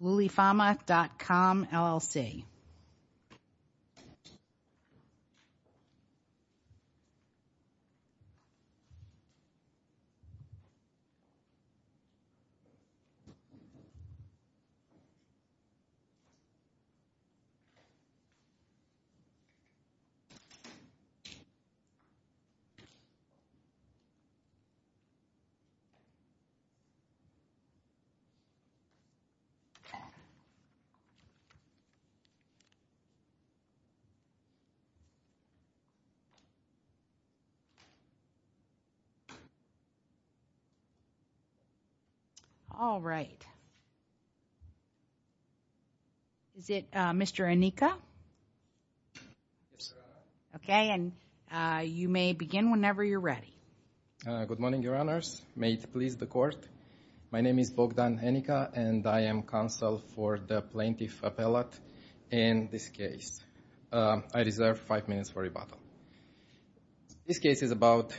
LuliFama.com LLC All right. Is it Mr. Anika? Yes, Your Honor. Okay, and you may begin whenever you're ready. Good morning, Your Honors. May it please the Court, my name is Bogdan Anika and I am counsel for the Plaintiff Appellate in this case. I reserve five minutes for rebuttal. This case is about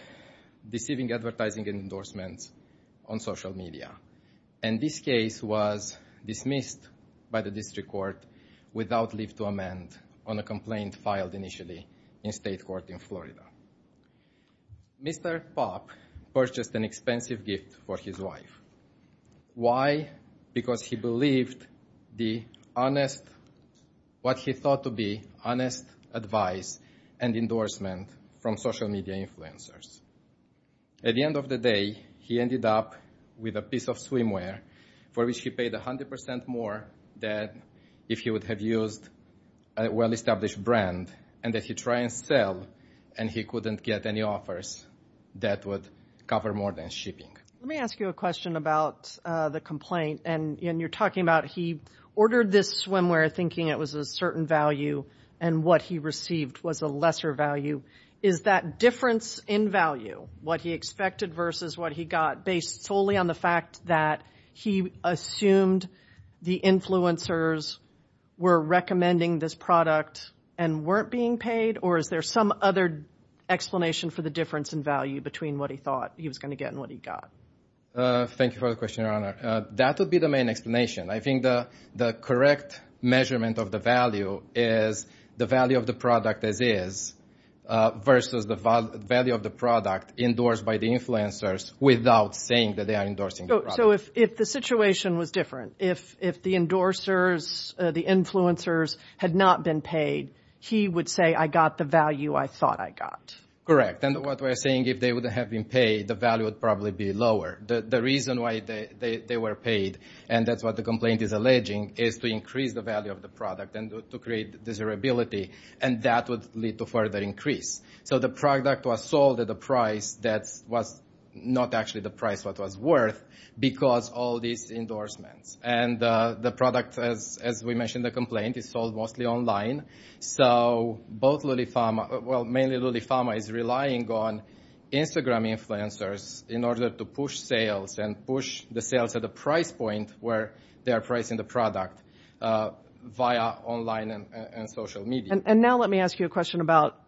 deceiving advertising endorsements on social media. And this case was dismissed by the District Court without leave to amend on a complaint filed initially in state court in Florida. Mr. Pop purchased an expensive gift for his wife. Why? Because he believed the honest, what he thought to be honest advice and endorsement from social media influencers. At the end of the day, he ended up with a piece of swimwear for which he paid 100% more than if he would have used a well-established brand. And if he tried to sell and he couldn't get any offers, that would cover more than shipping. Let me ask you a question about the complaint. And you're talking about he ordered this swimwear thinking it was a certain value and what he received was a lesser value. Is that difference in value, what he expected versus what he got, based solely on the fact that he assumed the influencers were recommending this product and weren't being paid? Or is there some other explanation for the difference in value between what he thought he was going to get and what he got? Thank you for the question, Your Honor. That would be the main explanation. I think the correct measurement of the value is the value of the product as is versus the value of the product endorsed by the influencers without saying that they are endorsing the product. So if the situation was different, if the endorsers, the influencers had not been paid, he would say, I got the value I thought I got. Correct. And what we're saying, if they would have been paid, the value would probably be lower. The reason why they were paid, and that's what the complaint is alleging, is to increase the value of the product and to create desirability. And that would lead to further increase. So the product was sold at a price that was not actually the price it was worth because of all these endorsements. And the product, as we mentioned in the complaint, is sold mostly online. So both Lulifama, well, mainly Lulifama is relying on Instagram influencers in order to push sales and push the sales at a price point where they are pricing the product via online and social media. And now let me ask you a question about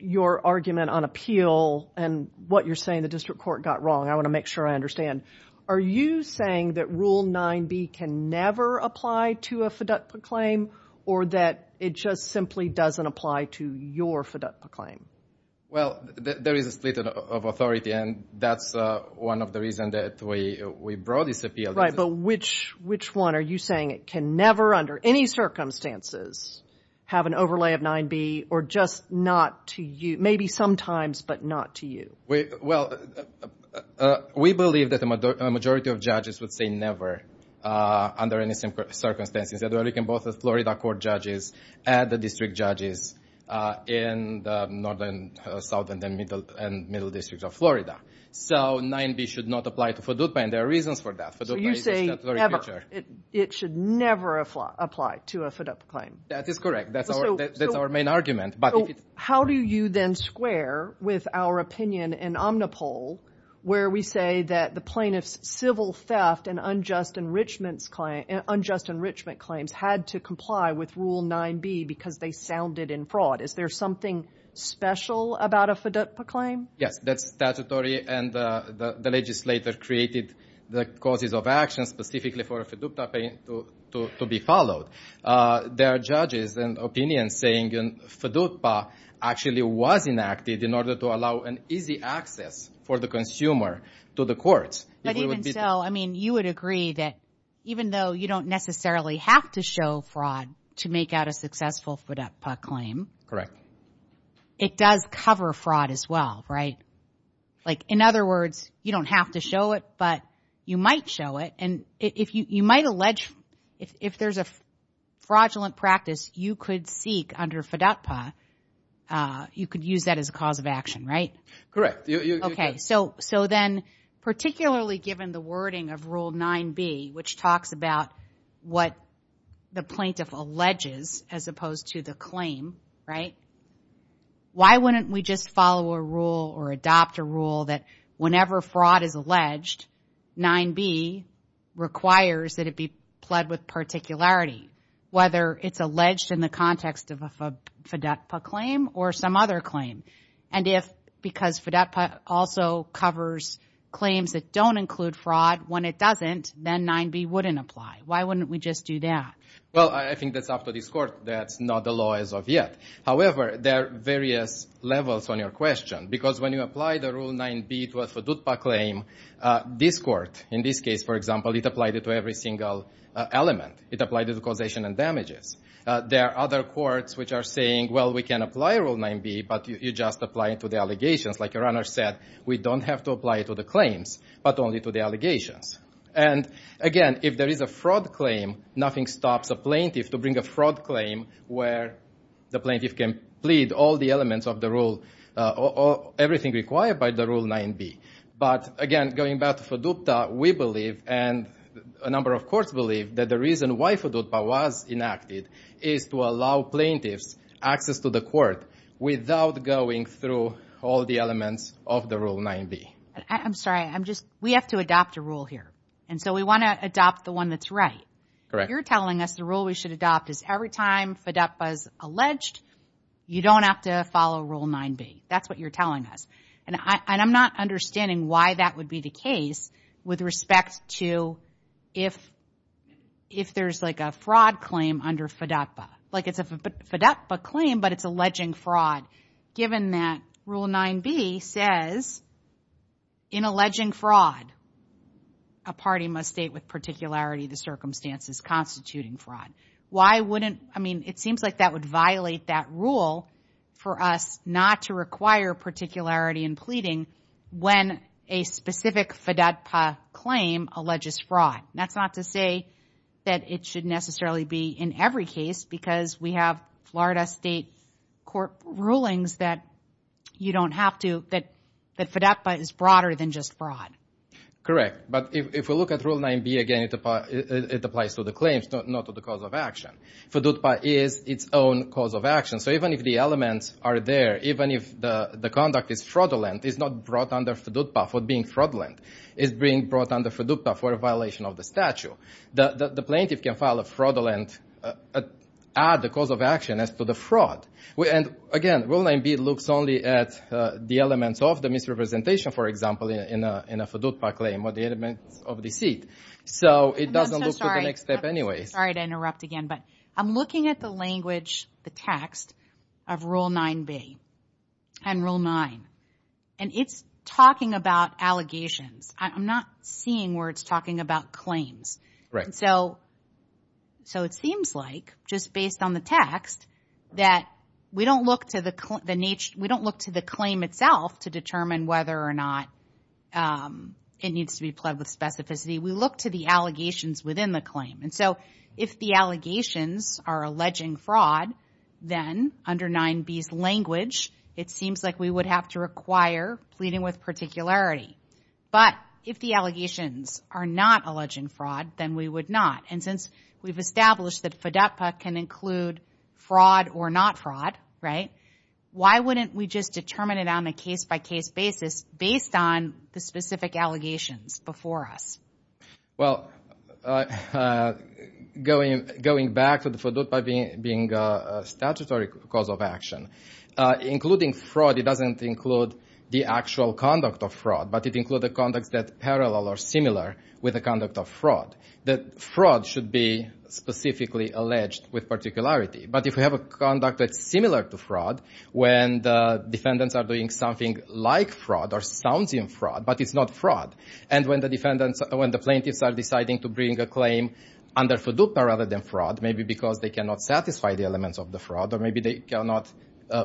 your argument on appeal and what you're saying the district court got wrong. I want to make sure I understand. Are you saying that Rule 9B can never apply to a FDUCP claim or that it just simply doesn't apply to your FDUCP claim? Well, there is a split of authority, and that's one of the reasons that we brought this appeal. But which one are you saying it can never, under any circumstances, have an overlay of 9B or just not to you, maybe sometimes, but not to you? Well, we believe that the majority of judges would say never, under any circumstances, that it can both the Florida court judges and the district judges in the northern, southern, and middle districts of Florida. So 9B should not apply to FDUCP, and there are reasons for that. So you're saying it should never apply to a FDUCP claim? That is correct. That's our main argument. How do you then square with our opinion in Omnipol where we say that the plaintiff's civil theft and unjust enrichment claims had to comply with Rule 9B because they sounded in fraud? Is there something special about a FDUCP claim? Yes, that's statutory, and the legislator created the causes of action specifically for a FDUCP claim to be followed. There are judges and opinions saying FDUCP actually was enacted in order to allow an easy access for the consumer to the courts. But even so, I mean, you would agree that even though you don't necessarily have to show fraud to make out a successful FDUCP claim, it does cover fraud as well, right? Like, in other words, you don't have to show it, but you might show it, and you might allege if there's a fraudulent practice you could seek under FDUCP, you could use that as a cause of action, right? Correct. Okay, so then, particularly given the wording of Rule 9B, which talks about what the plaintiff alleges as opposed to the claim, right? Why wouldn't we just follow a rule or adopt a rule that whenever fraud is alleged, 9B requires that it be pled with particularity, whether it's alleged in the context of a FDUCP claim or some other claim? And if, because FDUCP also covers claims that don't include fraud, when it doesn't, then 9B wouldn't apply. Why wouldn't we just do that? Well, I think that's up to this Court. That's not the law as of yet. However, there are various levels on your question, because when you apply the Rule 9B to a FDUCP claim, this Court, in this case, for example, it applied it to every single element. It applied it to causation and damages. There are other courts which are saying, well, we can apply Rule 9B, but you just apply it to the allegations. Like your Honor said, we don't have to apply it to the claims, but only to the allegations. And, again, if there is a fraud claim, nothing stops a plaintiff to bring a fraud claim where the plaintiff can plead all the elements of the Rule, everything required by the Rule 9B. But, again, going back to FDUCP, we believe, and a number of courts believe, that the reason why FDUCP was enacted is to allow plaintiffs access to the Court without going through all the elements of the Rule 9B. I'm sorry, I'm just, we have to adopt a rule here, and so we want to adopt the one that's right. Correct. You're telling us the rule we should adopt is every time FDUCP is alleged, you don't have to follow Rule 9B. That's what you're telling us. And I'm not understanding why that would be the case with respect to if there's like a fraud claim under FDUCP. Like it's a FDUCP claim, but it's alleging fraud, given that Rule 9B says, in alleging fraud, a party must state with particularity the circumstances constituting fraud. Why wouldn't, I mean, it seems like that would violate that rule for us not to require particularity in pleading when a specific FDUCP claim alleges fraud. That's not to say that it should necessarily be in every case, because we have Florida State Court rulings that you don't have to, that FDUCP is broader than just fraud. Correct. But if we look at Rule 9B again, it applies to the claims, not to the cause of action. FDUCP is its own cause of action. So even if the elements are there, even if the conduct is fraudulent, it's not brought under FDUCP for being fraudulent. It's being brought under FDUCP for a violation of the statute. The plaintiff can file a fraudulent, add the cause of action as to the fraud. Again, Rule 9B looks only at the elements of the misrepresentation, for example, in a FDUCP claim, or the elements of deceit. So it doesn't look to the next step anyway. I'm sorry to interrupt again, but I'm looking at the language, the text of Rule 9B and Rule 9, and it's talking about allegations. I'm not seeing where it's talking about claims. Right. So it seems like, just based on the text, that we don't look to the claim itself to determine whether or not it needs to be pledged with specificity. We look to the allegations within the claim. And so if the allegations are alleging fraud, then under 9B's language, it seems like we would have to require pleading with particularity. But if the allegations are not alleging fraud, then we would not. And since we've established that FDUCP can include fraud or not fraud, right, why wouldn't we just determine it on a case-by-case basis based on the specific allegations before us? Well, going back to the FDUCP being a statutory cause of action, including fraud, it doesn't include the actual conduct of fraud. But it includes the conduct that's parallel or similar with the conduct of fraud. Fraud should be specifically alleged with particularity. But if we have a conduct that's similar to fraud, when the defendants are doing something like fraud or sounds in fraud, but it's not fraud, and when the plaintiffs are deciding to bring a claim under FDUCP rather than fraud, maybe because they cannot satisfy the elements of the fraud or maybe they cannot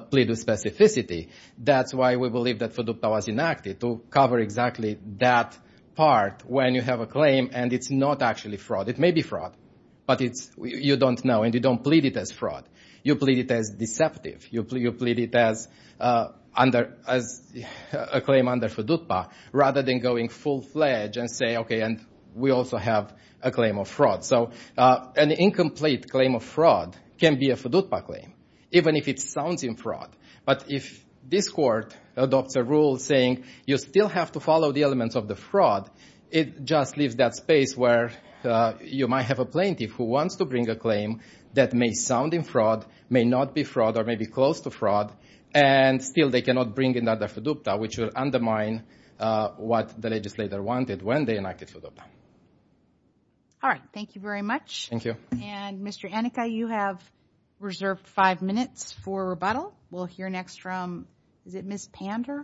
plead with specificity, that's why we believe that FDUCP was enacted to cover exactly that part when you have a claim and it's not actually fraud. It may be fraud, but you don't know and you don't plead it as fraud. You plead it as deceptive. You plead it as a claim under FDUCP rather than going full-fledged and say, okay, we also have a claim of fraud. So an incomplete claim of fraud can be a FDUCP claim, even if it sounds in fraud. But if this court adopts a rule saying you still have to follow the elements of the fraud, it just leaves that space where you might have a plaintiff who wants to bring a claim that may sound in fraud, may not be fraud, or may be close to fraud, and still they cannot bring another FDUCP, which will undermine what the legislator wanted when they enacted FDUCP. All right. Thank you very much. Thank you. And, Mr. Anika, you have reserved five minutes for rebuttal. We'll hear next from, is it Ms. Pander?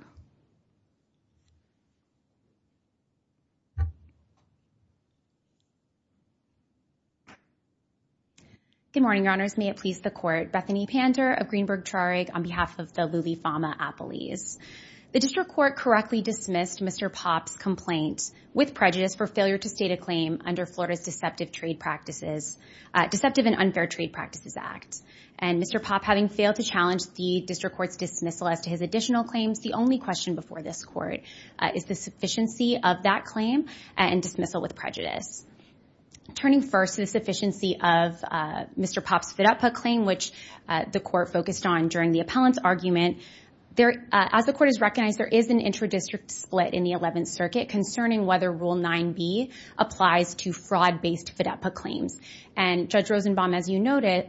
Good morning, Your Honors. May it please the Court. Bethany Pander of Greenberg-Trarig on behalf of the Lulee-Fama-Applees. The district court correctly dismissed Mr. Popp's complaint with prejudice for failure to state a claim under Florida's Deceptive and Unfair Trade Practices Act. And Mr. Popp, having failed to challenge the district court's dismissal as to his additional claims, the only question before this court is the sufficiency of that claim and dismissal with prejudice. Turning first to the sufficiency of Mr. Popp's FDUCP claim, which the court focused on during the appellant's argument, as the court has recognized, there is an intradistrict split in the Eleventh Circuit concerning whether Rule 9b applies to fraud-based FDUCP claims. And Judge Rosenbaum, as you noted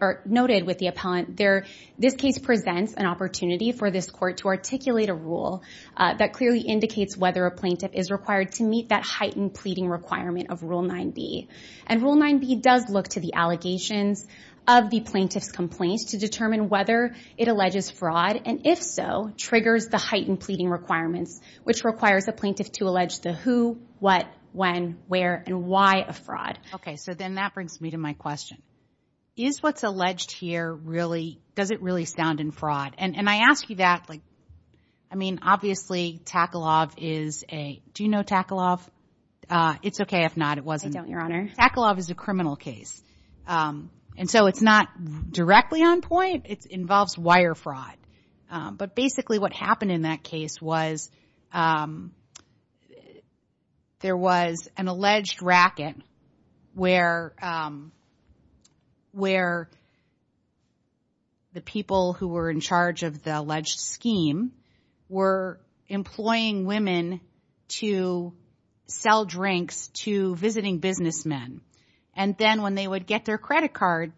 with the appellant, this case presents an opportunity for this court to articulate a rule that clearly indicates whether a plaintiff is required to meet that heightened pleading requirement of Rule 9b. And Rule 9b does look to the allegations of the plaintiff's complaint to determine whether it alleges fraud, and if so, triggers the heightened pleading requirements, which requires a plaintiff to allege the who, what, when, where, and why of fraud. Okay, so then that brings me to my question. Is what's alleged here really, does it really stand in fraud? And I ask you that, like, I mean, obviously, Tackle-Off is a, do you know Tackle-Off? It's okay if not, it wasn't. I don't, Your Honor. Tackle-Off is a criminal case. And so it's not directly on point. It involves wire fraud. But basically what happened in that case was there was an alleged racket where the people who were in charge of the alleged scheme were employing women to sell drinks to visiting businessmen. And then when they would get their credit card,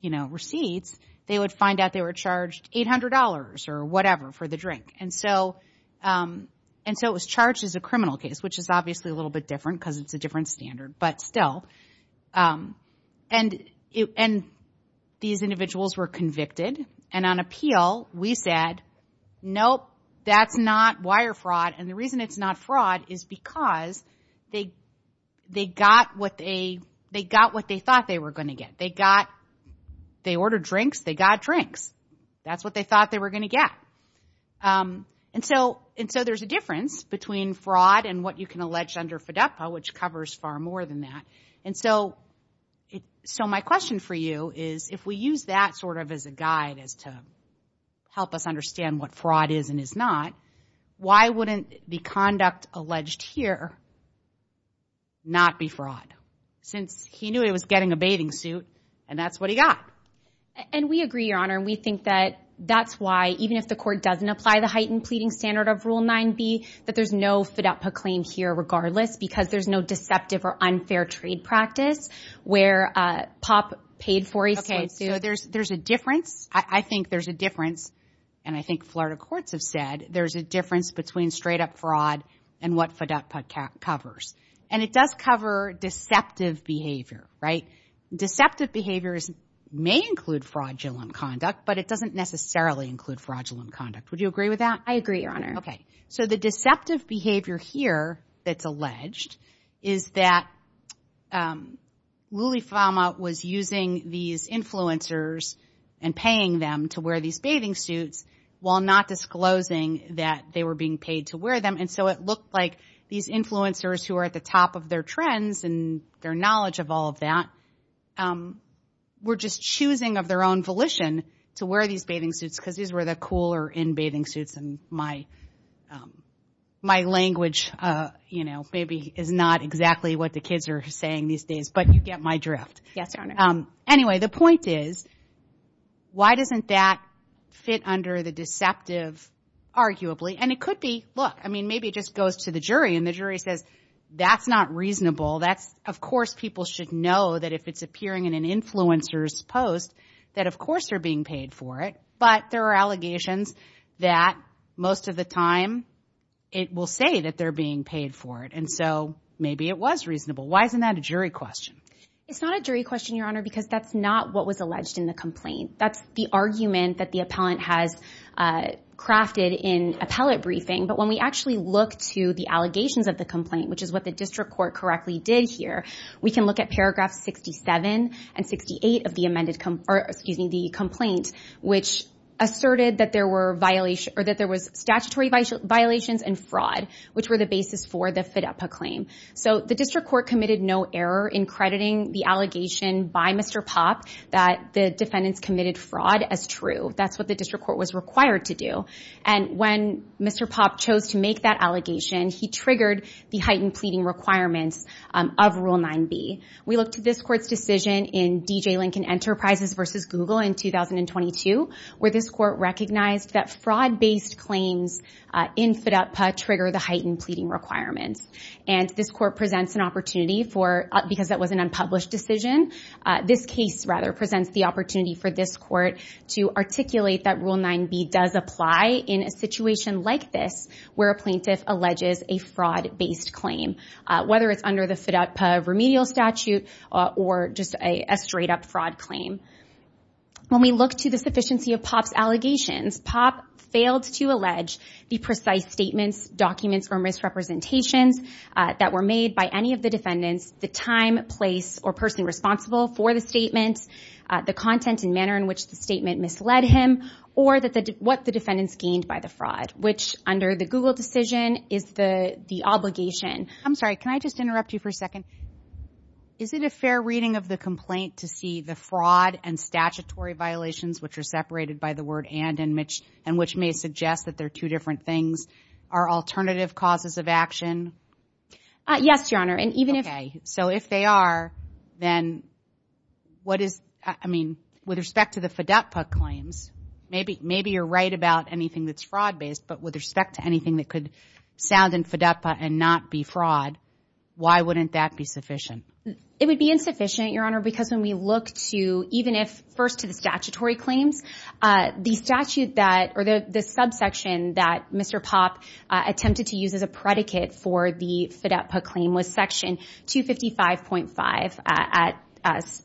you know, receipts, they would find out they were charged $800 or whatever for the drink. And so it was charged as a criminal case, which is obviously a little bit different because it's a different standard, but still. And these individuals were convicted. And on appeal, we said, nope, that's not wire fraud. And the reason it's not fraud is because they got what they thought they were going to get. They got, they ordered drinks, they got drinks. That's what they thought they were going to get. And so there's a difference between fraud and what you can allege under FDEPA, which covers far more than that. And so my question for you is, if we use that sort of as a guide as to help us understand what fraud is and is not, why wouldn't the conduct alleged here not be fraud? Since he knew he was getting a bathing suit, and that's what he got. And we agree, Your Honor, and we think that that's why, even if the court doesn't apply the heightened pleading standard of Rule 9b, that there's no FDEPA claim here regardless because there's no deceptive or unfair trade practice where POP paid for a swimsuit. Okay, so there's a difference. I think there's a difference, and I think Florida courts have said there's a difference between straight-up fraud and what FDEPA covers. And it does cover deceptive behavior, right? It may include fraudulent conduct, but it doesn't necessarily include fraudulent conduct. Would you agree with that? I agree, Your Honor. Okay. So the deceptive behavior here that's alleged is that Lulifama was using these influencers and paying them to wear these bathing suits while not disclosing that they were being paid to wear them. And so it looked like these influencers, who are at the top of their trends and their knowledge of all of that, were just choosing of their own volition to wear these bathing suits because these were the cooler in-bathing suits. And my language, you know, maybe is not exactly what the kids are saying these days, but you get my drift. Yes, Your Honor. Anyway, the point is, why doesn't that fit under the deceptive, arguably? And it could be, look, I mean, maybe it just goes to the jury and the jury says, that's not reasonable. That's, of course, people should know that if it's appearing in an influencer's post that, of course, they're being paid for it. But there are allegations that most of the time it will say that they're being paid for it. And so maybe it was reasonable. Why isn't that a jury question? It's not a jury question, Your Honor, because that's not what was alleged in the complaint. That's the argument that the appellant has crafted in appellate briefing. But when we actually look to the allegations of the complaint, which is what the district court correctly did here, we can look at paragraphs 67 and 68 of the amended, or excuse me, the complaint, which asserted that there were violations or that there was statutory violations and fraud, which were the basis for the FIDEPA claim. So the district court committed no error in crediting the allegation by Mr. Pop that the defendants committed fraud as true. That's what the district court was required to do. And when Mr. Pop chose to make that allegation, he triggered the heightened pleading requirements of Rule 9b. We looked at this court's decision in D.J. Lincoln Enterprises v. Google in 2022, where this court recognized that fraud-based claims in FIDEPA trigger the heightened pleading requirements. And this court presents an opportunity for, because that was an unpublished decision, this case rather presents the opportunity for this court to articulate that Rule 9b does apply in a situation like this, where a plaintiff alleges a fraud-based claim, whether it's under the FIDEPA remedial statute or just a straight-up fraud claim. When we look to the sufficiency of Pop's allegations, Pop failed to allege the precise statements, documents, or misrepresentations that were made by any of the defendants, the time, place, or person responsible for the statements, the content and manner in which the statement misled him, or what the defendants gained by the fraud, which under the Google decision is the obligation. I'm sorry, can I just interrupt you for a second? Is it a fair reading of the complaint to see the fraud and statutory violations, which are separated by the word and, and which may suggest that they're two different things, are alternative causes of action? Yes, Your Honor. Okay. So if they are, then what is, I mean, with respect to the FIDEPA claims, maybe you're right about anything that's fraud-based, but with respect to anything that could sound in FIDEPA and not be fraud, why wouldn't that be sufficient? It would be insufficient, Your Honor, because when we look to, even if first to the statutory claims, the statute that, or the subsection that Mr. Pop attempted to use as a predicate for the FIDEPA claim was section 255.5,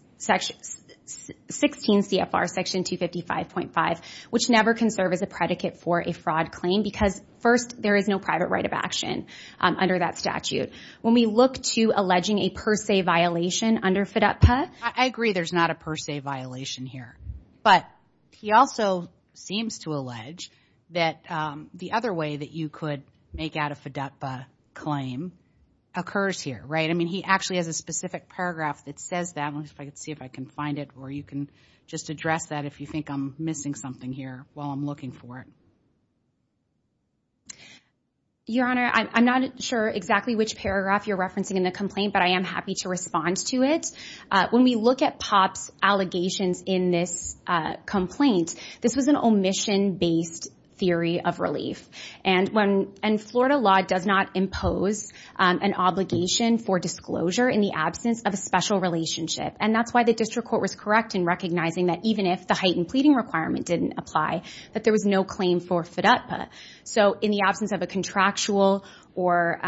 16 CFR section 255.5, which never can serve as a predicate for a fraud claim, because first, there is no private right of action under that statute. When we look to alleging a per se violation under FIDEPA. I agree there's not a per se violation here, but he also seems to allege that the other way that you could make out a FIDEPA claim occurs here, right? I mean, he actually has a specific paragraph that says that. Let me see if I can find it, or you can just address that if you think I'm missing something here while I'm looking for it. Your Honor, I'm not sure exactly which paragraph you're referencing in the complaint, but I am happy to respond to it. When we look at Pop's allegations in this complaint, this was an omission-based theory of relief. And Florida law does not impose an obligation for disclosure in the absence of a special relationship. And that's why the district court was correct in recognizing that even if the heightened pleading requirement didn't apply, that there was no claim for FIDEPA. So in the absence of a contractual or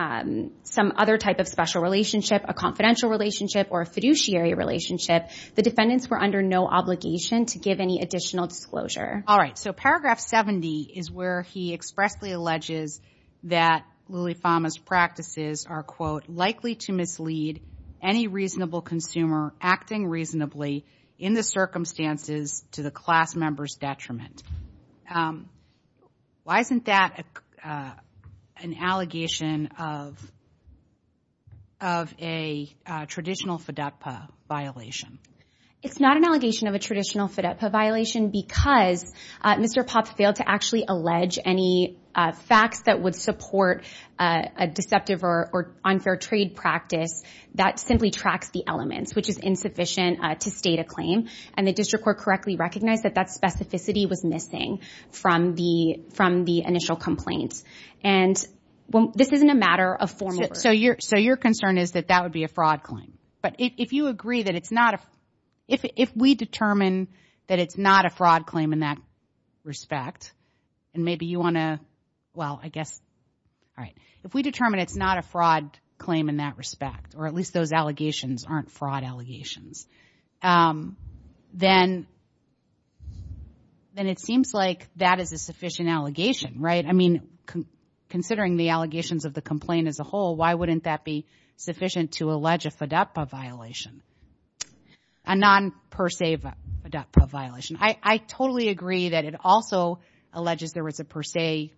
some other type of special relationship, a confidential relationship, or a fiduciary relationship, the defendants were under no obligation to give any additional disclosure. All right, so paragraph 70 is where he expressly alleges that Lillie Fama's practices are, quote, likely to mislead any reasonable consumer acting reasonably in the circumstances to the class member's detriment. Why isn't that an allegation of a traditional FIDEPA violation? It's not an allegation of a traditional FIDEPA violation because Mr. Pop failed to actually allege any facts that would support a deceptive or unfair trade practice that simply tracks the elements, which is insufficient to state a claim. And the district court correctly recognized that that specificity was missing from the initial complaints. And this isn't a matter of formal version. So your concern is that that would be a fraud claim. But if you agree that it's not a – if we determine that it's not a fraud claim in that respect, and maybe you want to – well, I guess – all right. If we determine it's not a fraud claim in that respect, or at least those allegations aren't fraud allegations, then it seems like that is a sufficient allegation, right? I mean, considering the allegations of the complaint as a whole, why wouldn't that be sufficient to allege a FIDEPA violation, a non-per se FIDEPA violation? I totally agree that it also alleges there was a per se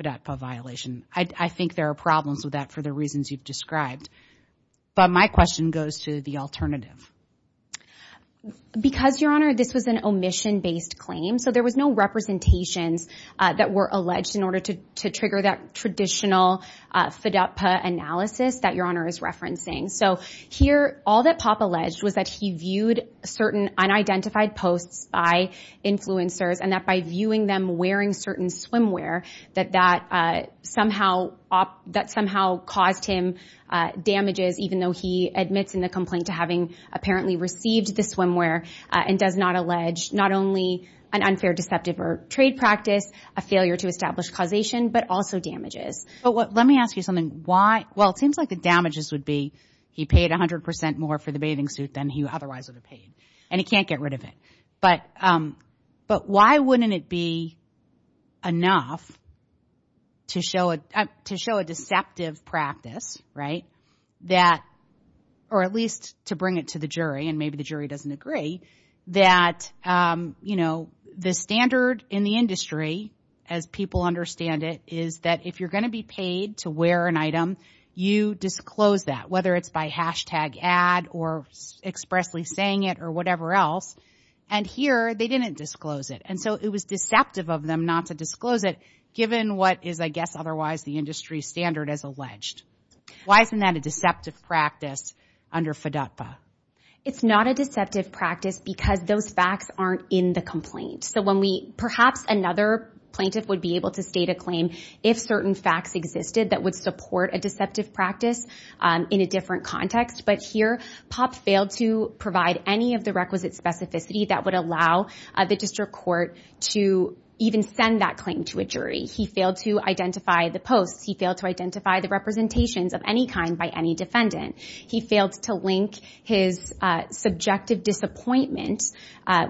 FIDEPA violation. I think there are problems with that for the reasons you've described. But my question goes to the alternative. Because, Your Honor, this was an omission-based claim, so there was no representations that were alleged in order to trigger that traditional FIDEPA analysis that Your Honor is referencing. So here, all that Pop alleged was that he viewed certain unidentified posts by influencers, and that by viewing them wearing certain swimwear, that that somehow – that somehow caused him damages, even though he admits in the complaint to having apparently received the swimwear, and does not allege not only an unfair deceptive or trade practice, a failure to establish causation, but also damages. But let me ask you something. Why – well, it seems like the damages would be he paid 100 percent more for the bathing suit than he otherwise would have paid, and he can't get rid of it. But why wouldn't it be enough to show a – to show a deceptive practice, right? That – or at least to bring it to the jury, and maybe the jury doesn't agree, that, you know, the standard in the industry, as people understand it, is that if you're going to be paid to wear an item, you disclose that, whether it's by hashtag ad or expressly saying it or whatever else. And here, they didn't disclose it, and so it was deceptive of them not to disclose it, given what is, I guess, otherwise the industry standard as alleged. Why isn't that a deceptive practice under FDUPA? It's not a deceptive practice because those facts aren't in the complaint. So when we – perhaps another plaintiff would be able to state a claim if certain facts existed that would support a deceptive practice in a different context, but here, Pop failed to provide any of the requisite specificity that would allow the district court to even send that claim to a jury. He failed to identify the posts. He failed to identify the representations of any kind by any defendant. He failed to link his subjective disappointment,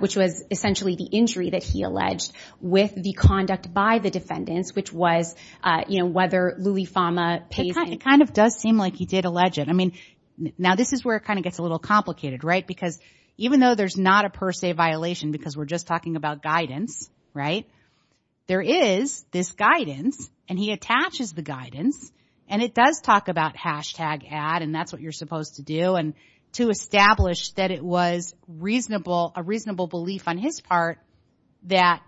which was essentially the injury that he alleged, with the conduct by the defendants, which was, you know, whether Louis Fama pays him. And it kind of does seem like he did allege it. I mean, now this is where it kind of gets a little complicated, right, because even though there's not a per se violation because we're just talking about guidance, right, there is this guidance, and he attaches the guidance, and it does talk about hashtag ad, and that's what you're supposed to do, and to establish that it was a reasonable belief on his part that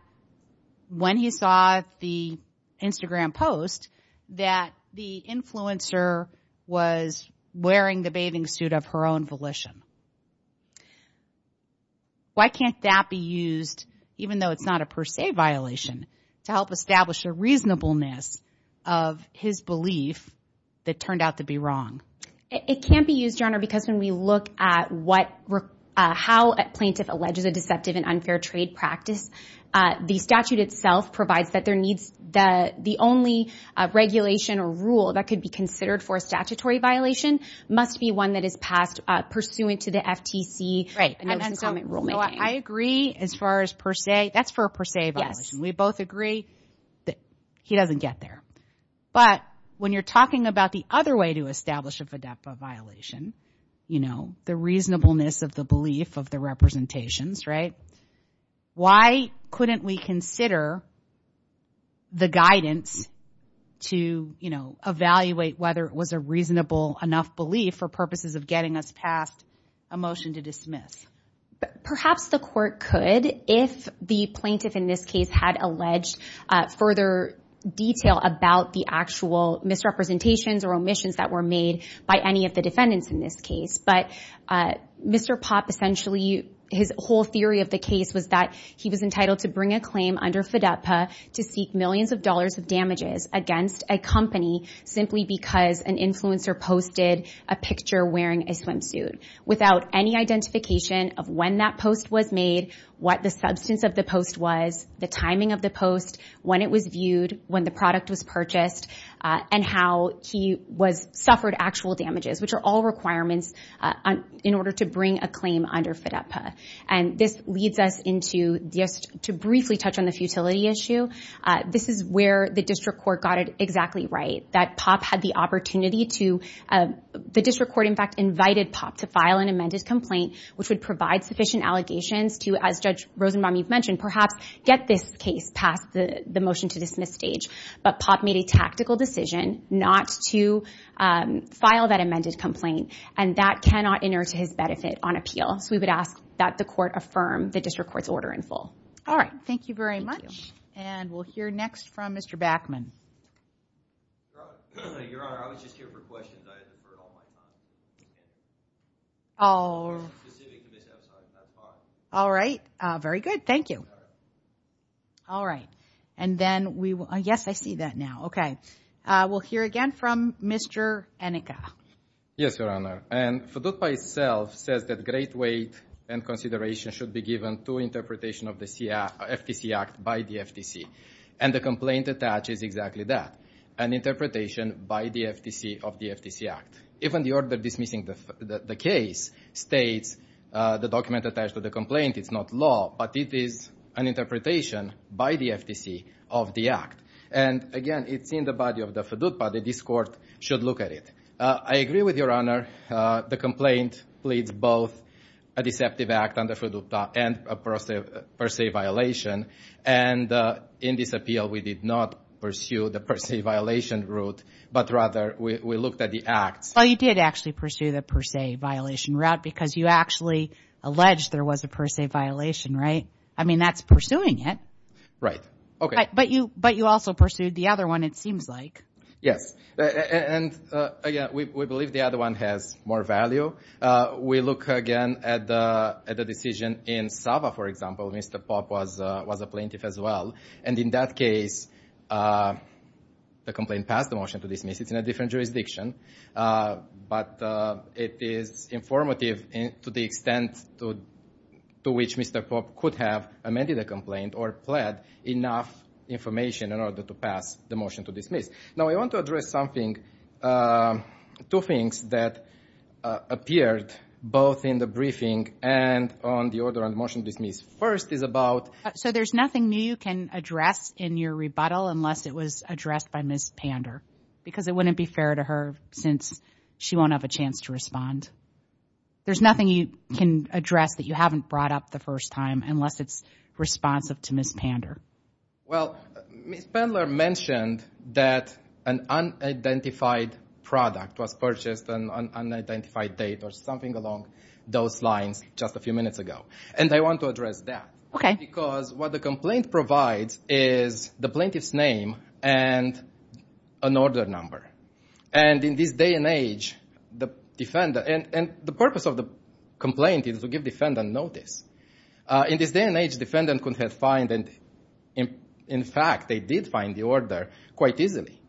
when he saw the Instagram post that the influencer was wearing the bathing suit of her own volition. Why can't that be used, even though it's not a per se violation, to help establish a reasonableness of his belief that turned out to be wrong? It can't be used, Your Honor, because when we look at how a plaintiff alleges a deceptive and unfair trade practice, the statute itself provides that the only regulation or rule that could be considered for a statutory violation must be one that is passed pursuant to the FTC. Right. I agree as far as per se. That's for a per se violation. Yes. We both agree that he doesn't get there. But when you're talking about the other way to establish a FDEPA violation, you know, the reasonableness of the belief of the representations, right, why couldn't we consider the guidance to, you know, evaluate whether it was a reasonable enough belief for purposes of getting us past a motion to dismiss? Perhaps the court could if the plaintiff in this case had alleged further detail about the actual misrepresentations or omissions that were made by any of the defendants in this case. But Mr. Popp, essentially, his whole theory of the case was that he was entitled to bring a claim under FDEPA to seek millions of dollars of damages against a company simply because an influencer posted a picture wearing a swimsuit without any identification of when that post was made, what the substance of the post was, the timing of the post, when it was viewed, when the product was purchased, and how he suffered actual damages, which are all requirements in order to bring a claim under FDEPA. And this leads us into just to briefly touch on the futility issue. This is where the district court got it exactly right, that Popp had the opportunity to, the district court, in fact, invited Popp to file an amended complaint, which would provide sufficient allegations to, as Judge Rosenbaum, you've mentioned, perhaps get this case past the motion to dismiss stage. But Popp made a tactical decision not to file that amended complaint, and that cannot enter to his benefit on appeal. So we would ask that the court affirm the district court's order in full. All right. Thank you very much. And we'll hear next from Mr. Backman. Your Honor, I was just here for questions. I deferred all my time. All right. Very good. Thank you. All right. And then we will – yes, I see that now. Okay. We'll hear again from Mr. Enica. Yes, Your Honor. And FDEPA itself says that great weight and consideration should be given to interpretation of the FTC Act by the FTC. And the complaint attaches exactly that, an interpretation by the FTC of the FTC Act. Even the order dismissing the case states the document attached to the complaint, it's not law, but it is an interpretation by the FTC of the Act. And, again, it's in the body of the FDEPA. The district court should look at it. I agree with Your Honor. The complaint pleads both a deceptive act under FDEPA and a per se violation. And in this appeal, we did not pursue the per se violation route, but rather we looked at the Act. Well, you did actually pursue the per se violation route because you actually alleged there was a per se violation, right? I mean, that's pursuing it. Right. Okay. But you also pursued the other one, it seems like. Yes. And, again, we believe the other one has more value. We look again at the decision in Sava, for example. Mr. Popp was a plaintiff as well. And in that case, the complaint passed the motion to dismiss. It's in a different jurisdiction. But it is informative to the extent to which Mr. Popp could have amended the complaint or pled enough information in order to pass the motion to dismiss. Now, I want to address something, two things that appeared both in the briefing and on the order on the motion to dismiss. First is about So there's nothing new you can address in your rebuttal unless it was addressed by Ms. Pander because it wouldn't be fair to her since she won't have a chance to respond. There's nothing you can address that you haven't brought up the first time unless it's responsive to Ms. Pander. Well, Ms. Pander mentioned that an unidentified product was purchased on an unidentified date or something along those lines just a few minutes ago. And I want to address that. Okay. Why? Because what the complaint provides is the plaintiff's name and an order number. And in this day and age, the purpose of the complaint is to give defendant notice. In this day and age, defendant could have found and, in fact, they did find the order quite easily.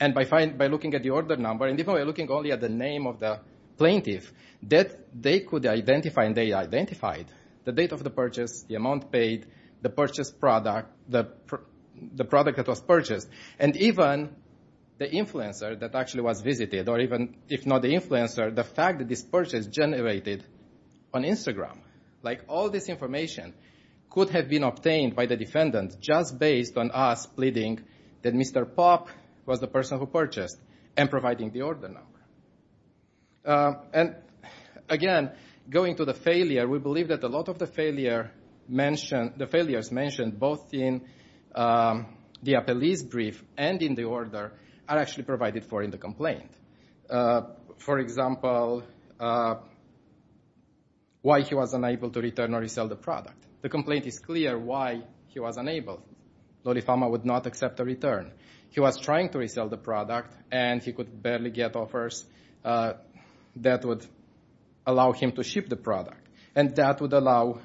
And by looking at the order number and by looking only at the name of the plaintiff, they could identify and they identified the date of the purchase, the amount paid, the purchased product, the product that was purchased, and even the influencer that actually was visited or even, if not the influencer, the fact that this purchase generated on Instagram. All this information could have been obtained by the defendant just based on us pleading that Mr. Pop was the person who purchased and providing the order number. And, again, going to the failure, we believe that a lot of the failures mentioned both in the appellee's brief and in the order are actually provided for in the complaint. For example, why he was unable to return or resell the product. The complaint is clear why he was unable. Lolliphalma would not accept a return. He was trying to resell the product and he could barely get offers that would allow him to ship the product. And that would allow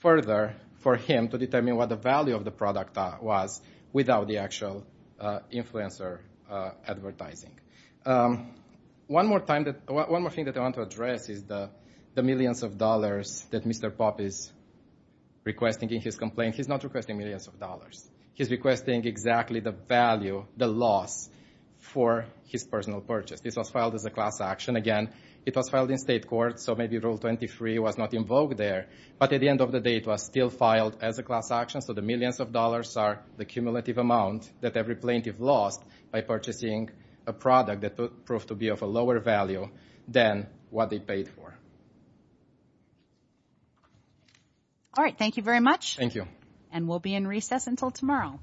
further for him to determine what the value of the product was without the actual influencer advertising. One more thing that I want to address is the millions of dollars that Mr. Pop is requesting in his complaint. He's not requesting millions of dollars. He's requesting exactly the value, the loss, for his personal purchase. This was filed as a class action. Again, it was filed in state court, so maybe Rule 23 was not invoked there. But at the end of the day, it was still filed as a class action, so the millions of dollars are the cumulative amount that every plaintiff lost by purchasing a product that proved to be of a lower value than what they paid for. All right. Thank you very much. Thank you. And we'll be in recess until tomorrow.